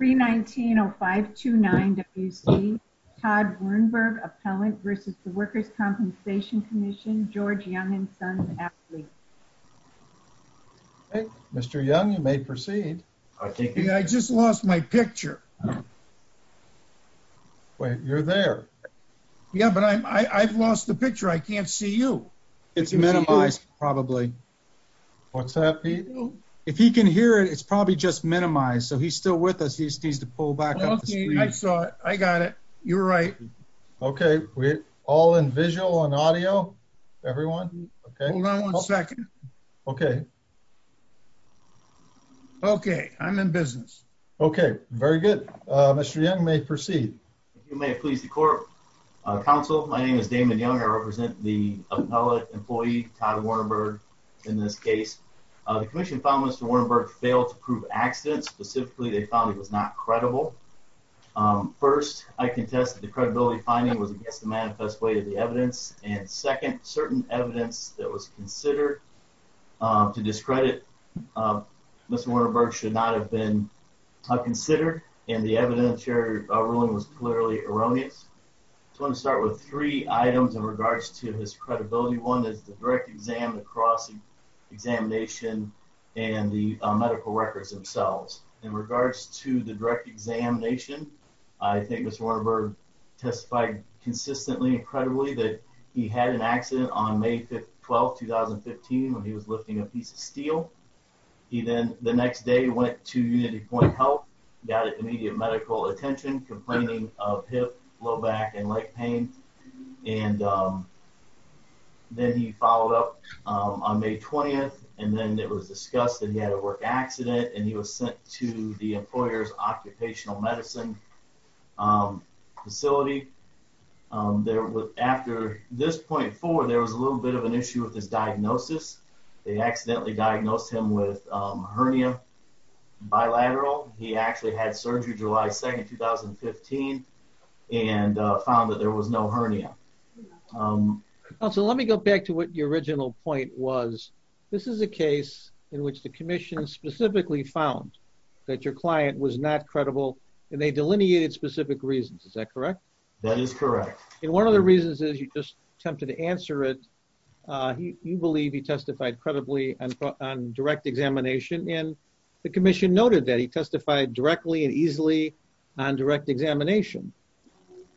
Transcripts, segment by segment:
319-0529-WC, Todd Wernberg, Appellant versus the Workers' Compensation Commission, George Young and Sons Athlete. Mr. Young, you may proceed. I just lost my picture. Wait, you're there. Yeah, but I've lost the picture. I can't see you. It's minimized probably. What's that, Pete? If he can hear it, it's probably just minimized. So he's still with us. He just needs to pull back up the screen. I saw it. I got it. You're right. Okay, we're all in visual and audio, everyone. Okay. Hold on one second. Okay. Okay, I'm in business. Okay, very good. Mr. Young may proceed. If you may please the court. Counsel, my name is Damon Young. I represent the appellate employee, Todd Wernberg, in this case. The commission found Mr. Wernberg failed to prove accidents specifically they found he was not credible. First, I contest that the credibility finding was against the manifest way of the evidence. And second, certain evidence that was considered to discredit Mr. Wernberg should not have been considered. And the evidence your ruling was clearly erroneous. So I'm gonna start with three items in regards to his credibility. One is the direct exam, the cross examination, and the medical records themselves. In regards to the direct examination, I think Mr. Wernberg testified consistently and credibly that he had an accident on May 12th, 2015 when he was lifting a piece of steel. He then the next day went to UnityPoint Health, got immediate medical attention, complaining of hip, low back and leg pain. And then he followed up on May 20th and then it was discussed that he had a work accident and he was sent to the employer's occupational medicine facility. After this point forward, there was a little bit of an issue with his diagnosis. They accidentally diagnosed him with a hernia bilateral. He actually had surgery July 2nd, 2015 and found that there was no hernia. So let me go back to what your original point was. This is a case in which the commission specifically found that your client was not credible and they delineated specific reasons, is that correct? That is correct. And one of the reasons is you just attempted to answer it. You believe he testified credibly on direct examination and the commission noted that he testified directly and easily on direct examination.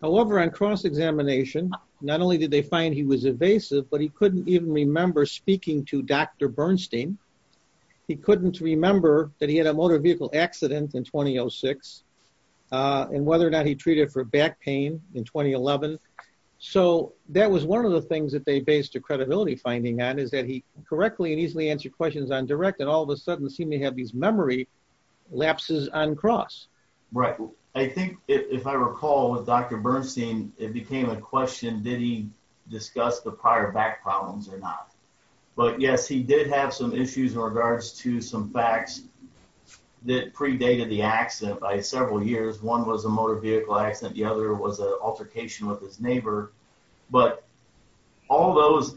However, on cross examination, not only did they find he was evasive, but he couldn't even remember speaking to Dr. Bernstein. He couldn't remember that he had a motor vehicle accident in 2006 and whether or not he treated for back pain in 2011. So that was one of the things that they based a credibility finding on is that he correctly and easily answered questions on direct and all of a sudden seemed to have these memory lapses on cross. Right. I think if I recall with Dr. Bernstein, it became a question, did he discuss the prior back problems or not? But yes, he did have some issues in regards to some facts that predated the accident by several years. One was a motor vehicle accident. The other was an altercation with his neighbor, but all those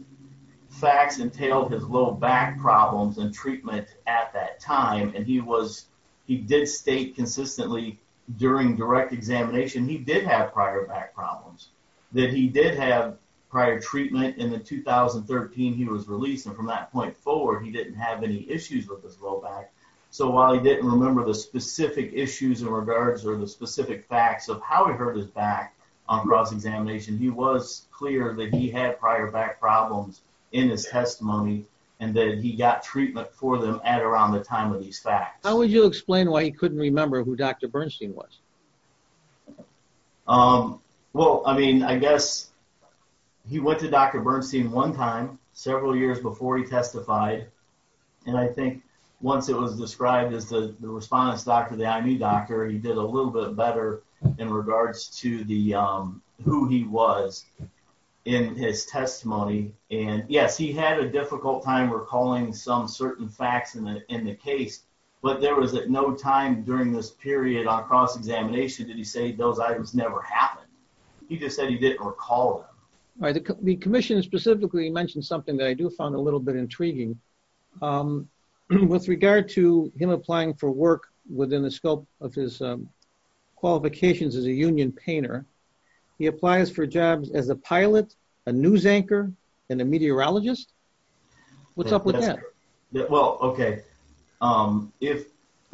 facts entailed his low back problems and treatment at that time. And he did state consistently during direct examination, he did have prior back problems, that he did have prior treatment. In the 2013, he was released. And from that point forward, he didn't have any issues with his low back. So while he didn't remember the specific issues in regards or the specific facts of how he hurt his back on cross examination, he was clear that he had prior back problems in his testimony and that he got treatment for them at around the time of these facts. How would you explain why he couldn't remember who Dr. Bernstein was? Well, I mean, I guess he went to Dr. Bernstein one time, several years before he testified. And I think once it was described as the respondent's doctor, the IMU doctor, he did a little bit better in regards to the, who he was in his testimony. And yes, he had a difficult time recalling some certain facts in the case, but there was no time during this period on cross examination. Did he say those items never happened? He just said he didn't recall them. All right, the commission specifically mentioned something that I do find a little bit intriguing. With regard to him applying for work within the scope of his qualifications as a union painter, he applies for jobs as a pilot, a news anchor, and a meteorologist. What's up with that? Well, okay.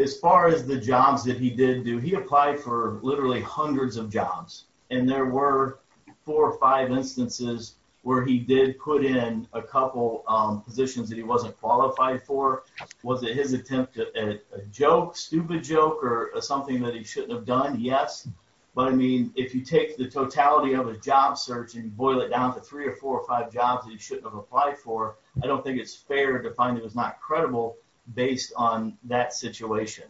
As far as the jobs that he did do, he applied for literally hundreds of jobs. And there were four or five instances where he did put in a couple positions that he wasn't qualified for. Was it his attempt at a joke, stupid joke, or something that he shouldn't have done? Yes. But I mean, if you take the totality of a job search and boil it down to three or four or five jobs that he shouldn't have applied for, I don't think it's fair to find it was not credible based on that situation.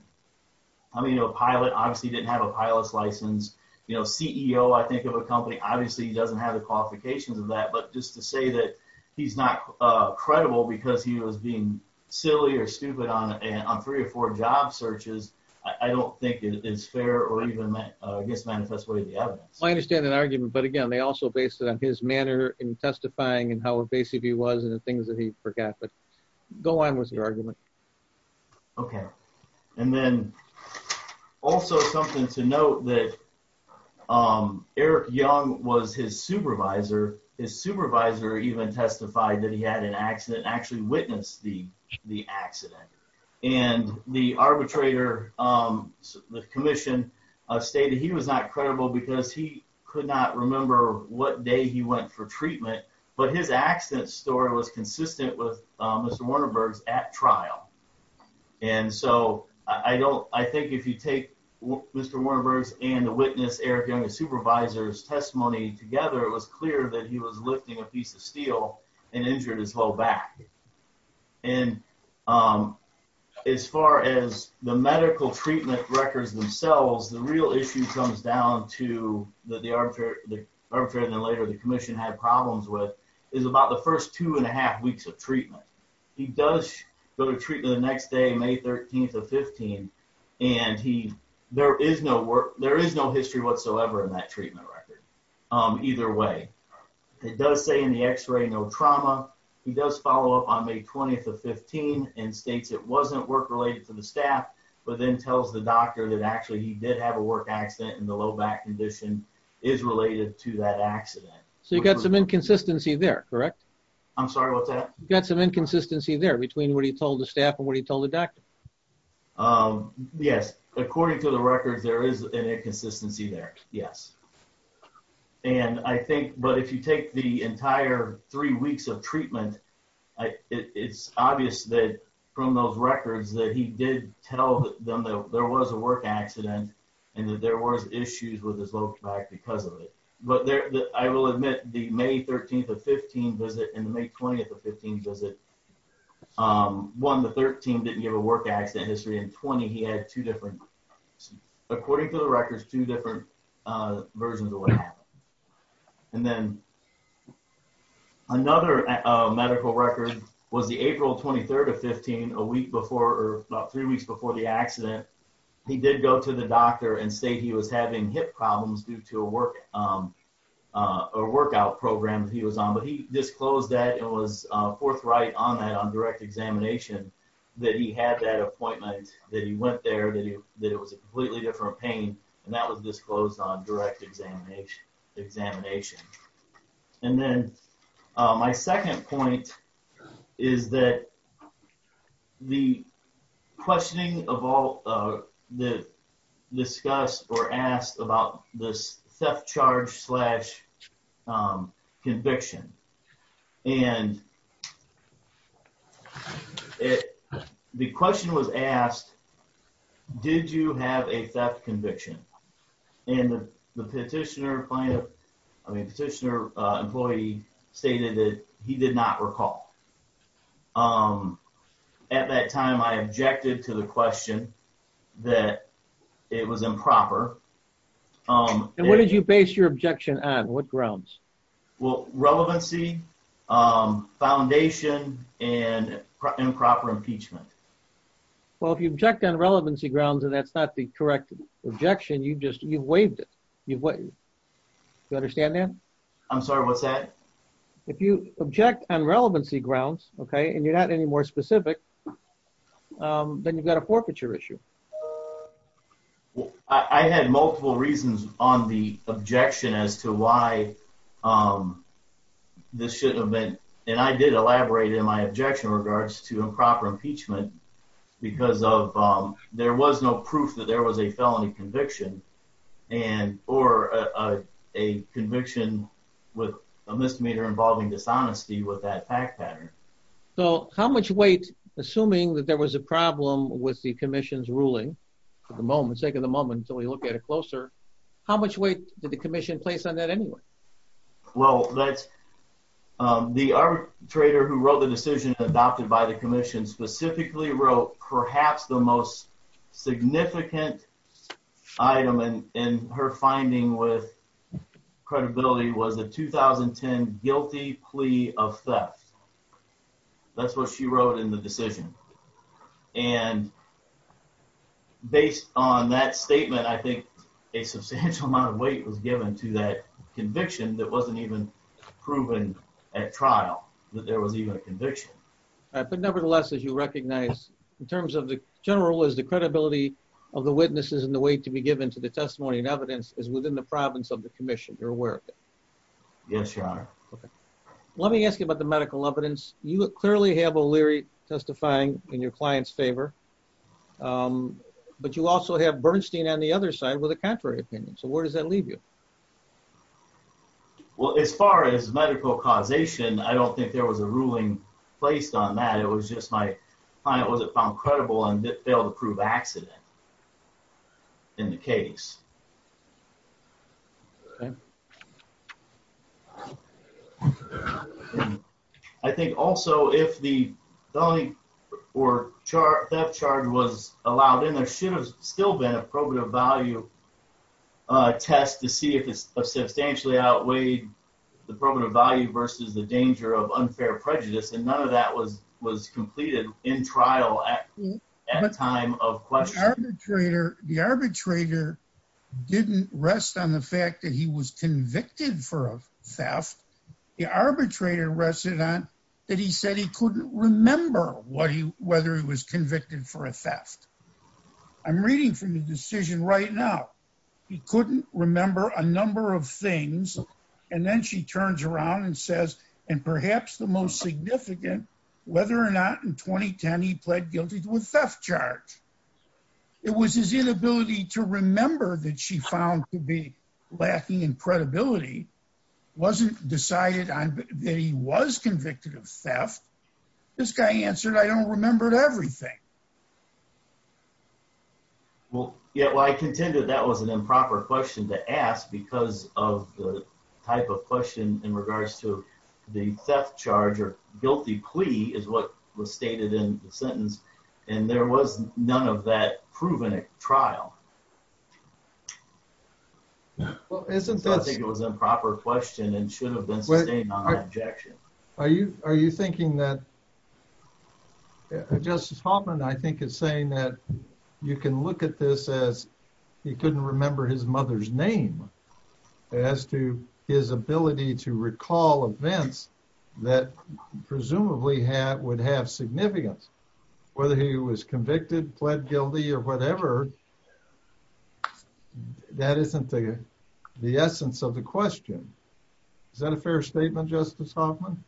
I mean, a pilot obviously didn't have a pilot's license. CEO, I think of a company, obviously he doesn't have the qualifications of that. But just to say that he's not credible because he was being silly or stupid on three or four job searches, I don't think it is fair or even I guess manifest way of the evidence. I understand that argument, but again, they also based it on his manner in testifying and how invasive he was and the things that he forgot. But go on with your argument. Okay. And then also something to note that Eric Young was his supervisor. His supervisor even testified that he had an accident and actually witnessed the accident. And the arbitrator, the commission stated he was not credible because he could not remember what day he went for treatment, but his accident story was consistent with Mr. Wernerberg's at trial. And so I think if you take Mr. Wernerberg's and the witness Eric Young's supervisor's testimony together it was clear that he was lifting a piece of steel and injured his whole back. And as far as the medical treatment records themselves, the real issue comes down to the arbitrator and then later the commission had problems with is about the first two and a half weeks of treatment. He does go to treatment the next day, May 13th of 15 and there is no history whatsoever in that treatment record either way. It does say in the x-ray, no trauma. He does follow up on May 20th of 15 and states it wasn't work related to the staff, but then tells the doctor that actually he did have a work accident and the low back condition is related to that accident. So you got some inconsistency there, correct? I'm sorry, what's that? You got some inconsistency there between what he told the staff and what he told the doctor. Yes, according to the records there is an inconsistency there, yes. And I think, but if you take the entire three weeks of treatment, it's obvious that from those records that he did tell them that there was a work accident and that there was issues with his low back because of it. But I will admit the May 13th of 15 visit and the May 20th of 15 visit, one, the 13 didn't give a work accident history and 20, he had two different, according to the records, two different versions of what happened. And then another medical record was the April 23rd of 15, a week before or about three weeks before the accident. He did go to the doctor and say he was having hip problems due to a workout program that he was on, but he disclosed that and was forthright on that on direct examination that he had that appointment, that he went there, that it was a completely different pain and that was disclosed on direct examination. And then my second point is that the questioning of all that discussed or asked about this theft charge slash conviction, and the question was asked, did you have a theft conviction? And the petitioner employee stated that he did not recall. At that time, I objected to the question that it was improper. And what did you base your objection on? What grounds? Well, relevancy, foundation, and improper impeachment. Well, if you object on relevancy grounds and that's not the correct objection, you've just, you've waived it. You've waived it. You understand that? I'm sorry, what's that? If you object on relevancy grounds, okay, and you're not any more specific, then you've got a forfeiture issue. I had multiple reasons on the objection as to why this shouldn't have been, and I did elaborate in my objection in regards to improper impeachment because there was no proof that there was a felony conviction or a conviction with a misdemeanor involving dishonesty with that fact pattern. So how much weight, assuming that there was a problem with the commission's ruling at the moment, let's take a moment until we look at it closer, how much weight did the commission place on that anyway? Well, the arbitrator who wrote the decision adopted by the commission specifically wrote perhaps the most significant item in her finding with credibility was a 2010 guilty plea of theft. That's what she wrote in the decision. And based on that statement, I think a substantial amount of weight was given to that conviction that wasn't even proven at trial, that there was even a conviction. But nevertheless, as you recognize, in terms of the general is the credibility of the witnesses and the weight to be given to the testimony and evidence is within the province of the commission, you're aware of it. Yes, your honor. Let me ask you about the medical evidence. You clearly have O'Leary testifying in your client's favor, but you also have Bernstein on the other side with a contrary opinion. So where does that leave you? Well, as far as medical causation, I don't think there was a ruling placed on that. It was just my client wasn't found credible and failed to prove accident in the case. I think also if the felony or theft charge was allowed in, there should have still been a probative value test to see if it's a substantially outweighed the probative value versus the danger of unfair prejudice. And none of that was completed in trial at the time of question. the arbitrator is the one who has the right to do so. Didn't rest on the fact that he was convicted for a theft. The arbitrator rested on that. He said he couldn't remember whether he was convicted for a theft. I'm reading from the decision right now. He couldn't remember a number of things. And then she turns around and says, and perhaps the most significant, whether or not in 2010, he pled guilty to a theft charge. It was his inability to remember that she found to be lacking in credibility. Wasn't decided on that he was convicted of theft. This guy answered, I don't remember everything. Well, yeah, well, I contended that was an improper question to ask because of the type of question in regards to the theft charge or guilty plea is what was stated in the sentence. And there was none of that proven at trial. Well, isn't that- I think it was improper question and should have been sustained on that objection. Are you thinking that, Justice Hoffman, I think is saying that you can look at this as he couldn't remember his mother's name as to his ability to recall events that presumably would have significance. Whether he was convicted, pled guilty or whatever, that isn't the essence of the question. Is that a fair statement, Justice Hoffman?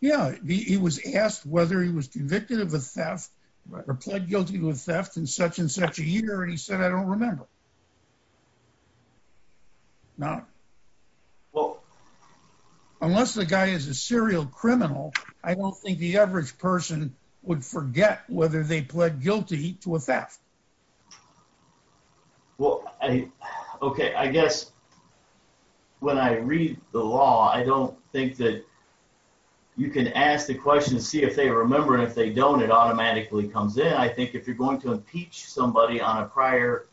Yeah, he was asked whether he was convicted of a theft or pled guilty to a theft in such and such a year. And he said, I don't remember. No. Unless the guy is a serial criminal, I don't think the average person would forget whether they pled guilty to a theft. Well, okay, I guess when I read the law, I don't think that you can ask the question to see if they remember it. If they don't, it automatically comes in. I think if you're going to impeach somebody on a prior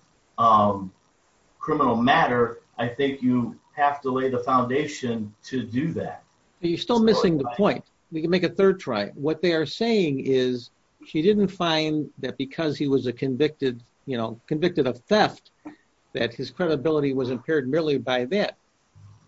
criminal matter, I think you have to lay the foundation to do that. You're still missing the point. We can make a third try. What they are saying is, she didn't find that because he was convicted of theft, that his credibility was impaired merely by that.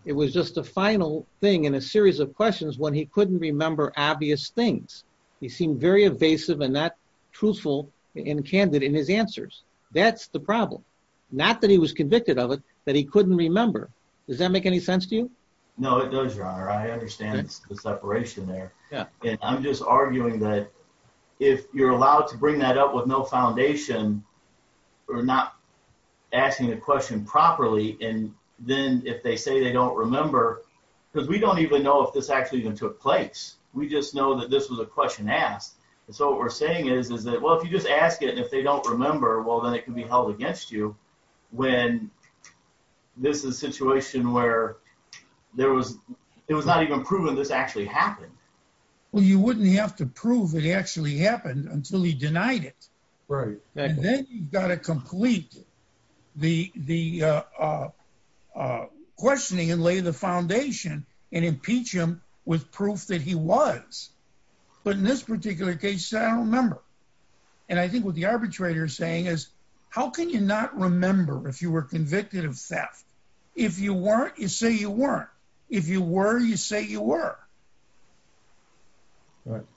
It was just a final thing in a series of questions when he couldn't remember obvious things. He seemed very evasive and not truthful and candid in his answers. That's the problem. Not that he was convicted of it, that he couldn't remember. Does that make any sense to you? No, it does, Your Honor. I understand the separation there. I'm just arguing that if you're allowed to bring that up with no foundation, or not asking the question properly, and then if they say they don't remember, because we don't even know if this actually even took place. We just know that this was a question asked. So what we're saying is that, well, if you just ask it and if they don't remember, well, then it can be held against you when this is a situation where there was, it was not even proven this actually happened. Well, you wouldn't have to prove it actually happened until he denied it. Right, exactly. And then you've got to complete the questioning and lay the foundation and impeach him with proof that he was. But in this particular case, he said, I don't remember. And I think what the arbitrator is saying is, how can you not remember if you were convicted of theft? If you weren't, you say you weren't. If you were, you say you were.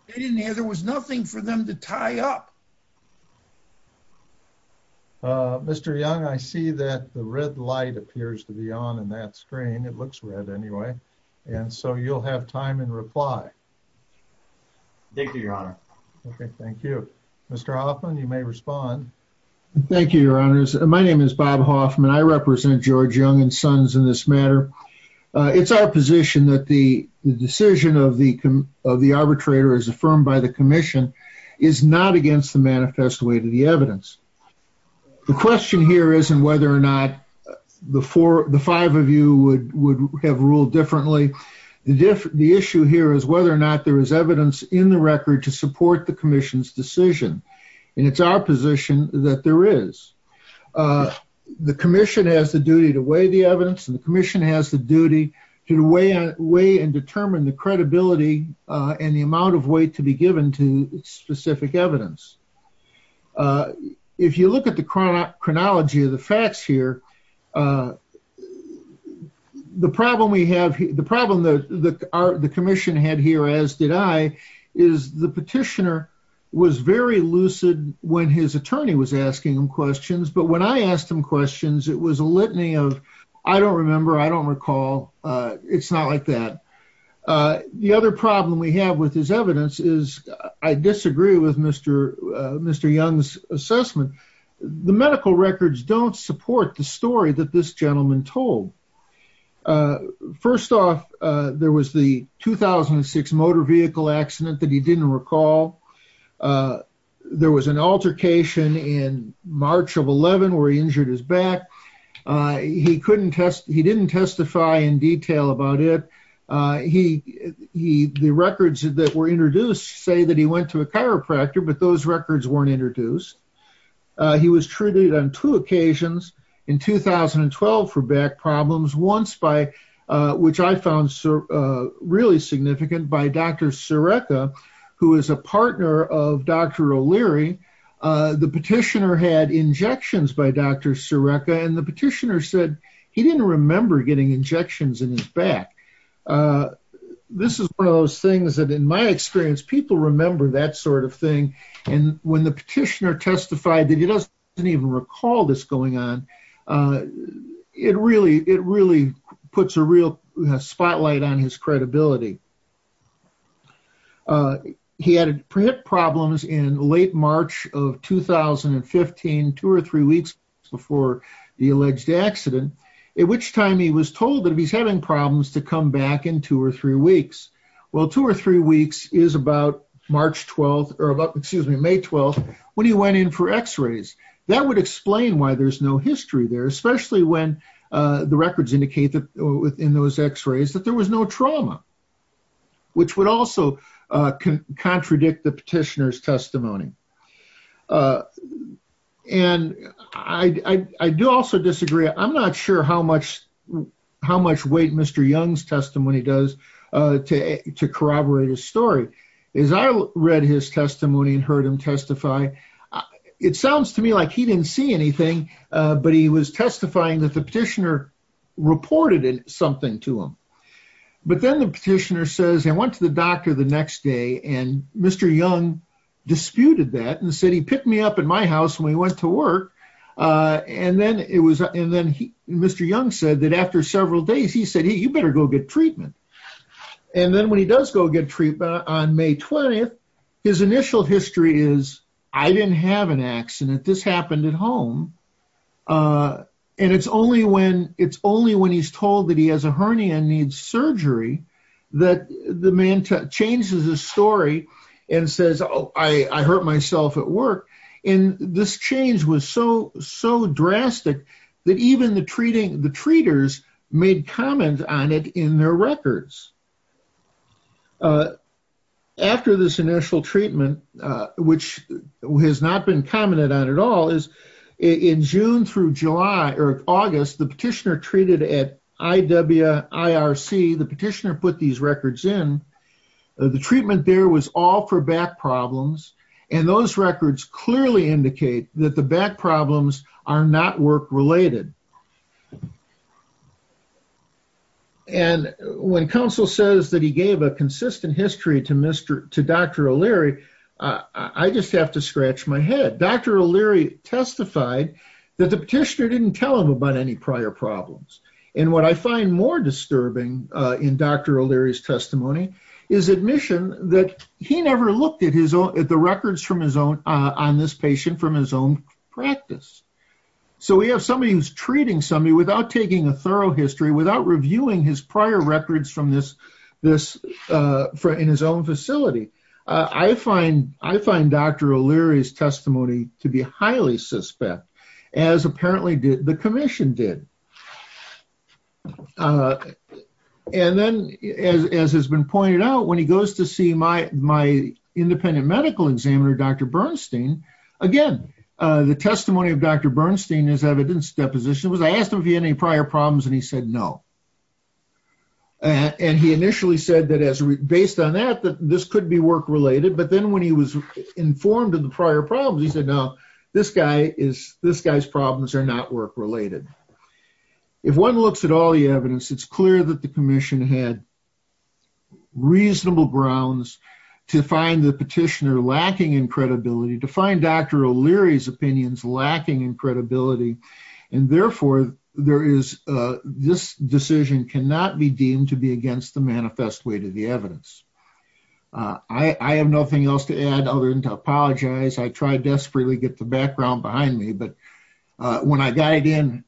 They didn't have, there was nothing for them to tie up. Mr. Young, I see that the red light appears to be on in that screen. It looks red anyway. And so you'll have time and reply. Thank you, your honor. Okay, thank you. Mr. Hoffman, you may respond. Thank you, your honors. My name is Bob Hoffman. I represent George Young and Sons in this matter. It's our position that the decision of the arbitrator as affirmed by the commission is not against the manifest way to the evidence. The question here isn't whether or not the five of you would have ruled differently. The issue here is whether or not there is evidence in the record to support the commission's decision. And it's our position that there is. The commission has the duty to weigh the evidence and the commission has the duty to weigh and determine the credibility and the amount of weight to be given to specific evidence. If you look at the chronology of the facts here, the problem we have, the problem that the commission had here as did I, is the petitioner was very lucid when his attorney was asking him questions. But when I asked him questions, it was a litany of, I don't remember, I don't recall. It's not like that. The other problem we have with his evidence is I disagree with Mr. Young's assessment. The medical records don't support the story that this gentleman told. First off, there was the 2006 motor vehicle accident that he didn't recall. There was an altercation in March of 11 where he injured his back. He didn't testify in detail about it. The records that were introduced say that he went to a chiropractor, but those records weren't introduced. He was treated on two occasions in 2012 for back problems, once by, which I found really significant, by Dr. Sereca, who is a partner of Dr. O'Leary. The petitioner had injections by Dr. Sereca, and the petitioner said he didn't remember getting injections in his back. This is one of those things that in my experience, people remember that sort of thing. And when the petitioner testified that he doesn't even recall this going on, it really puts a real spotlight on his credibility. He had problems in late March of 2015, two or three weeks before the alleged accident, at which time he was told that if he's having problems to come back in two or three weeks. Well, two or three weeks is about March 12th, or about, excuse me, May 12th, when he went in for x-rays. That would explain why there's no history there, especially when the records indicate that within those x-rays that there was no trauma. Which would also contradict the petitioner's testimony. And I do also disagree. I'm not sure how much weight Mr. Young's testimony does to corroborate his story. As I read his testimony and heard him testify, it sounds to me like he didn't see anything, but he was testifying that the petitioner reported something to him. But then the petitioner says, I went to the doctor the next day, and Mr. Young disputed that and said, he picked me up at my house when we went to work. And then Mr. Young said that after several days, he said, hey, you better go get treatment. And then when he does go get treatment on May 20th, his initial history is, I didn't have an accident, this happened at home. And it's only when he's told that he has a hernia and needs surgery, that the man changes his story and says, I hurt myself at work. And this change was so drastic that even the treaters made comment on it in their records. After this initial treatment, which has not been commented on at all, is in June through July or August, the petitioner treated at IWIRC, the petitioner put these records in, the treatment there was all for back problems. And those records clearly indicate that the back problems are not work related. And when counsel says that he gave a consistent history to Dr. O'Leary, I just have to scratch my head. Dr. O'Leary testified that the petitioner didn't tell him about any prior problems. And what I find more disturbing in Dr. O'Leary's testimony is admission that he never looked at the records from his own, on this patient from his own practice. So we have somebody who's treating somebody without taking a thorough history, without reviewing his prior records from this, in his own facility. I find Dr. O'Leary's testimony to be highly suspect, as apparently the commission did. And then as has been pointed out, when he goes to see my independent medical examiner, Dr. Bernstein, again, the testimony of Dr. Bernstein, his evidence deposition was, I asked him if he had any prior problems and he said, no. And he initially said that as based on that, that this could be work related, but then when he was informed of the prior problems, he said, no, this guy is, this guy's problems are not work related. If one looks at all the evidence, it's clear that the commission had reasonable grounds to find the petitioner lacking in credibility, to find Dr. O'Leary's opinions lacking in credibility. And therefore there is, this decision cannot be deemed to be against the manifest way to the evidence. I have nothing else to add other than to apologize. I tried desperately to get the background behind me, but when I got it in,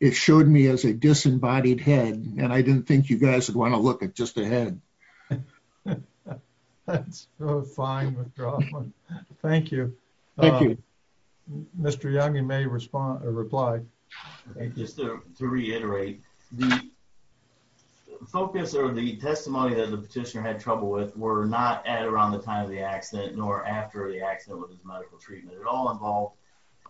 it showed me as a disembodied head. And I didn't think you guys would want to look at just a head That's so fine with Dr. Hoffman. Thank you. Thank you. Mr. Young, you may respond or reply. Just to reiterate the focus or the testimony that the petitioner had trouble with were not at around the time of the accident nor after the accident with his medical treatment. It all involved,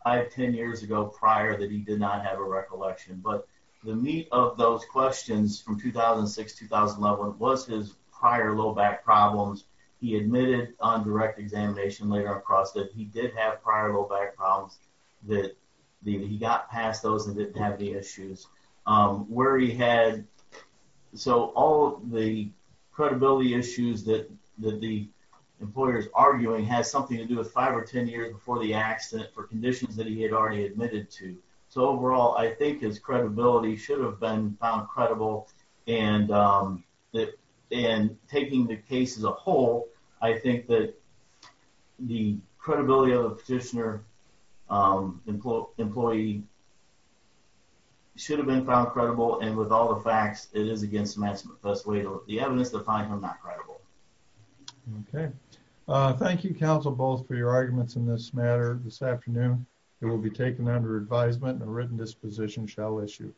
I have 10 years ago prior that he did not have a recollection, but the meat of those questions from 2006, 2011 was his prior low back problems. He admitted on direct examination later on across that he did have prior low back problems that he got past those and didn't have any issues. Where he had, so all the credibility issues that the employer's arguing has something to do with five or 10 years before the accident for conditions that he had already admitted to. So overall, I think his credibility should have been found credible. And taking the case as a whole, I think that the credibility of the petitioner employee should have been found credible. And with all the facts it is against the maximum best way to the evidence to find him that credible. Okay, thank you counsel both for your arguments in this matter this afternoon. It will be taken under advisement and a written disposition shall issue.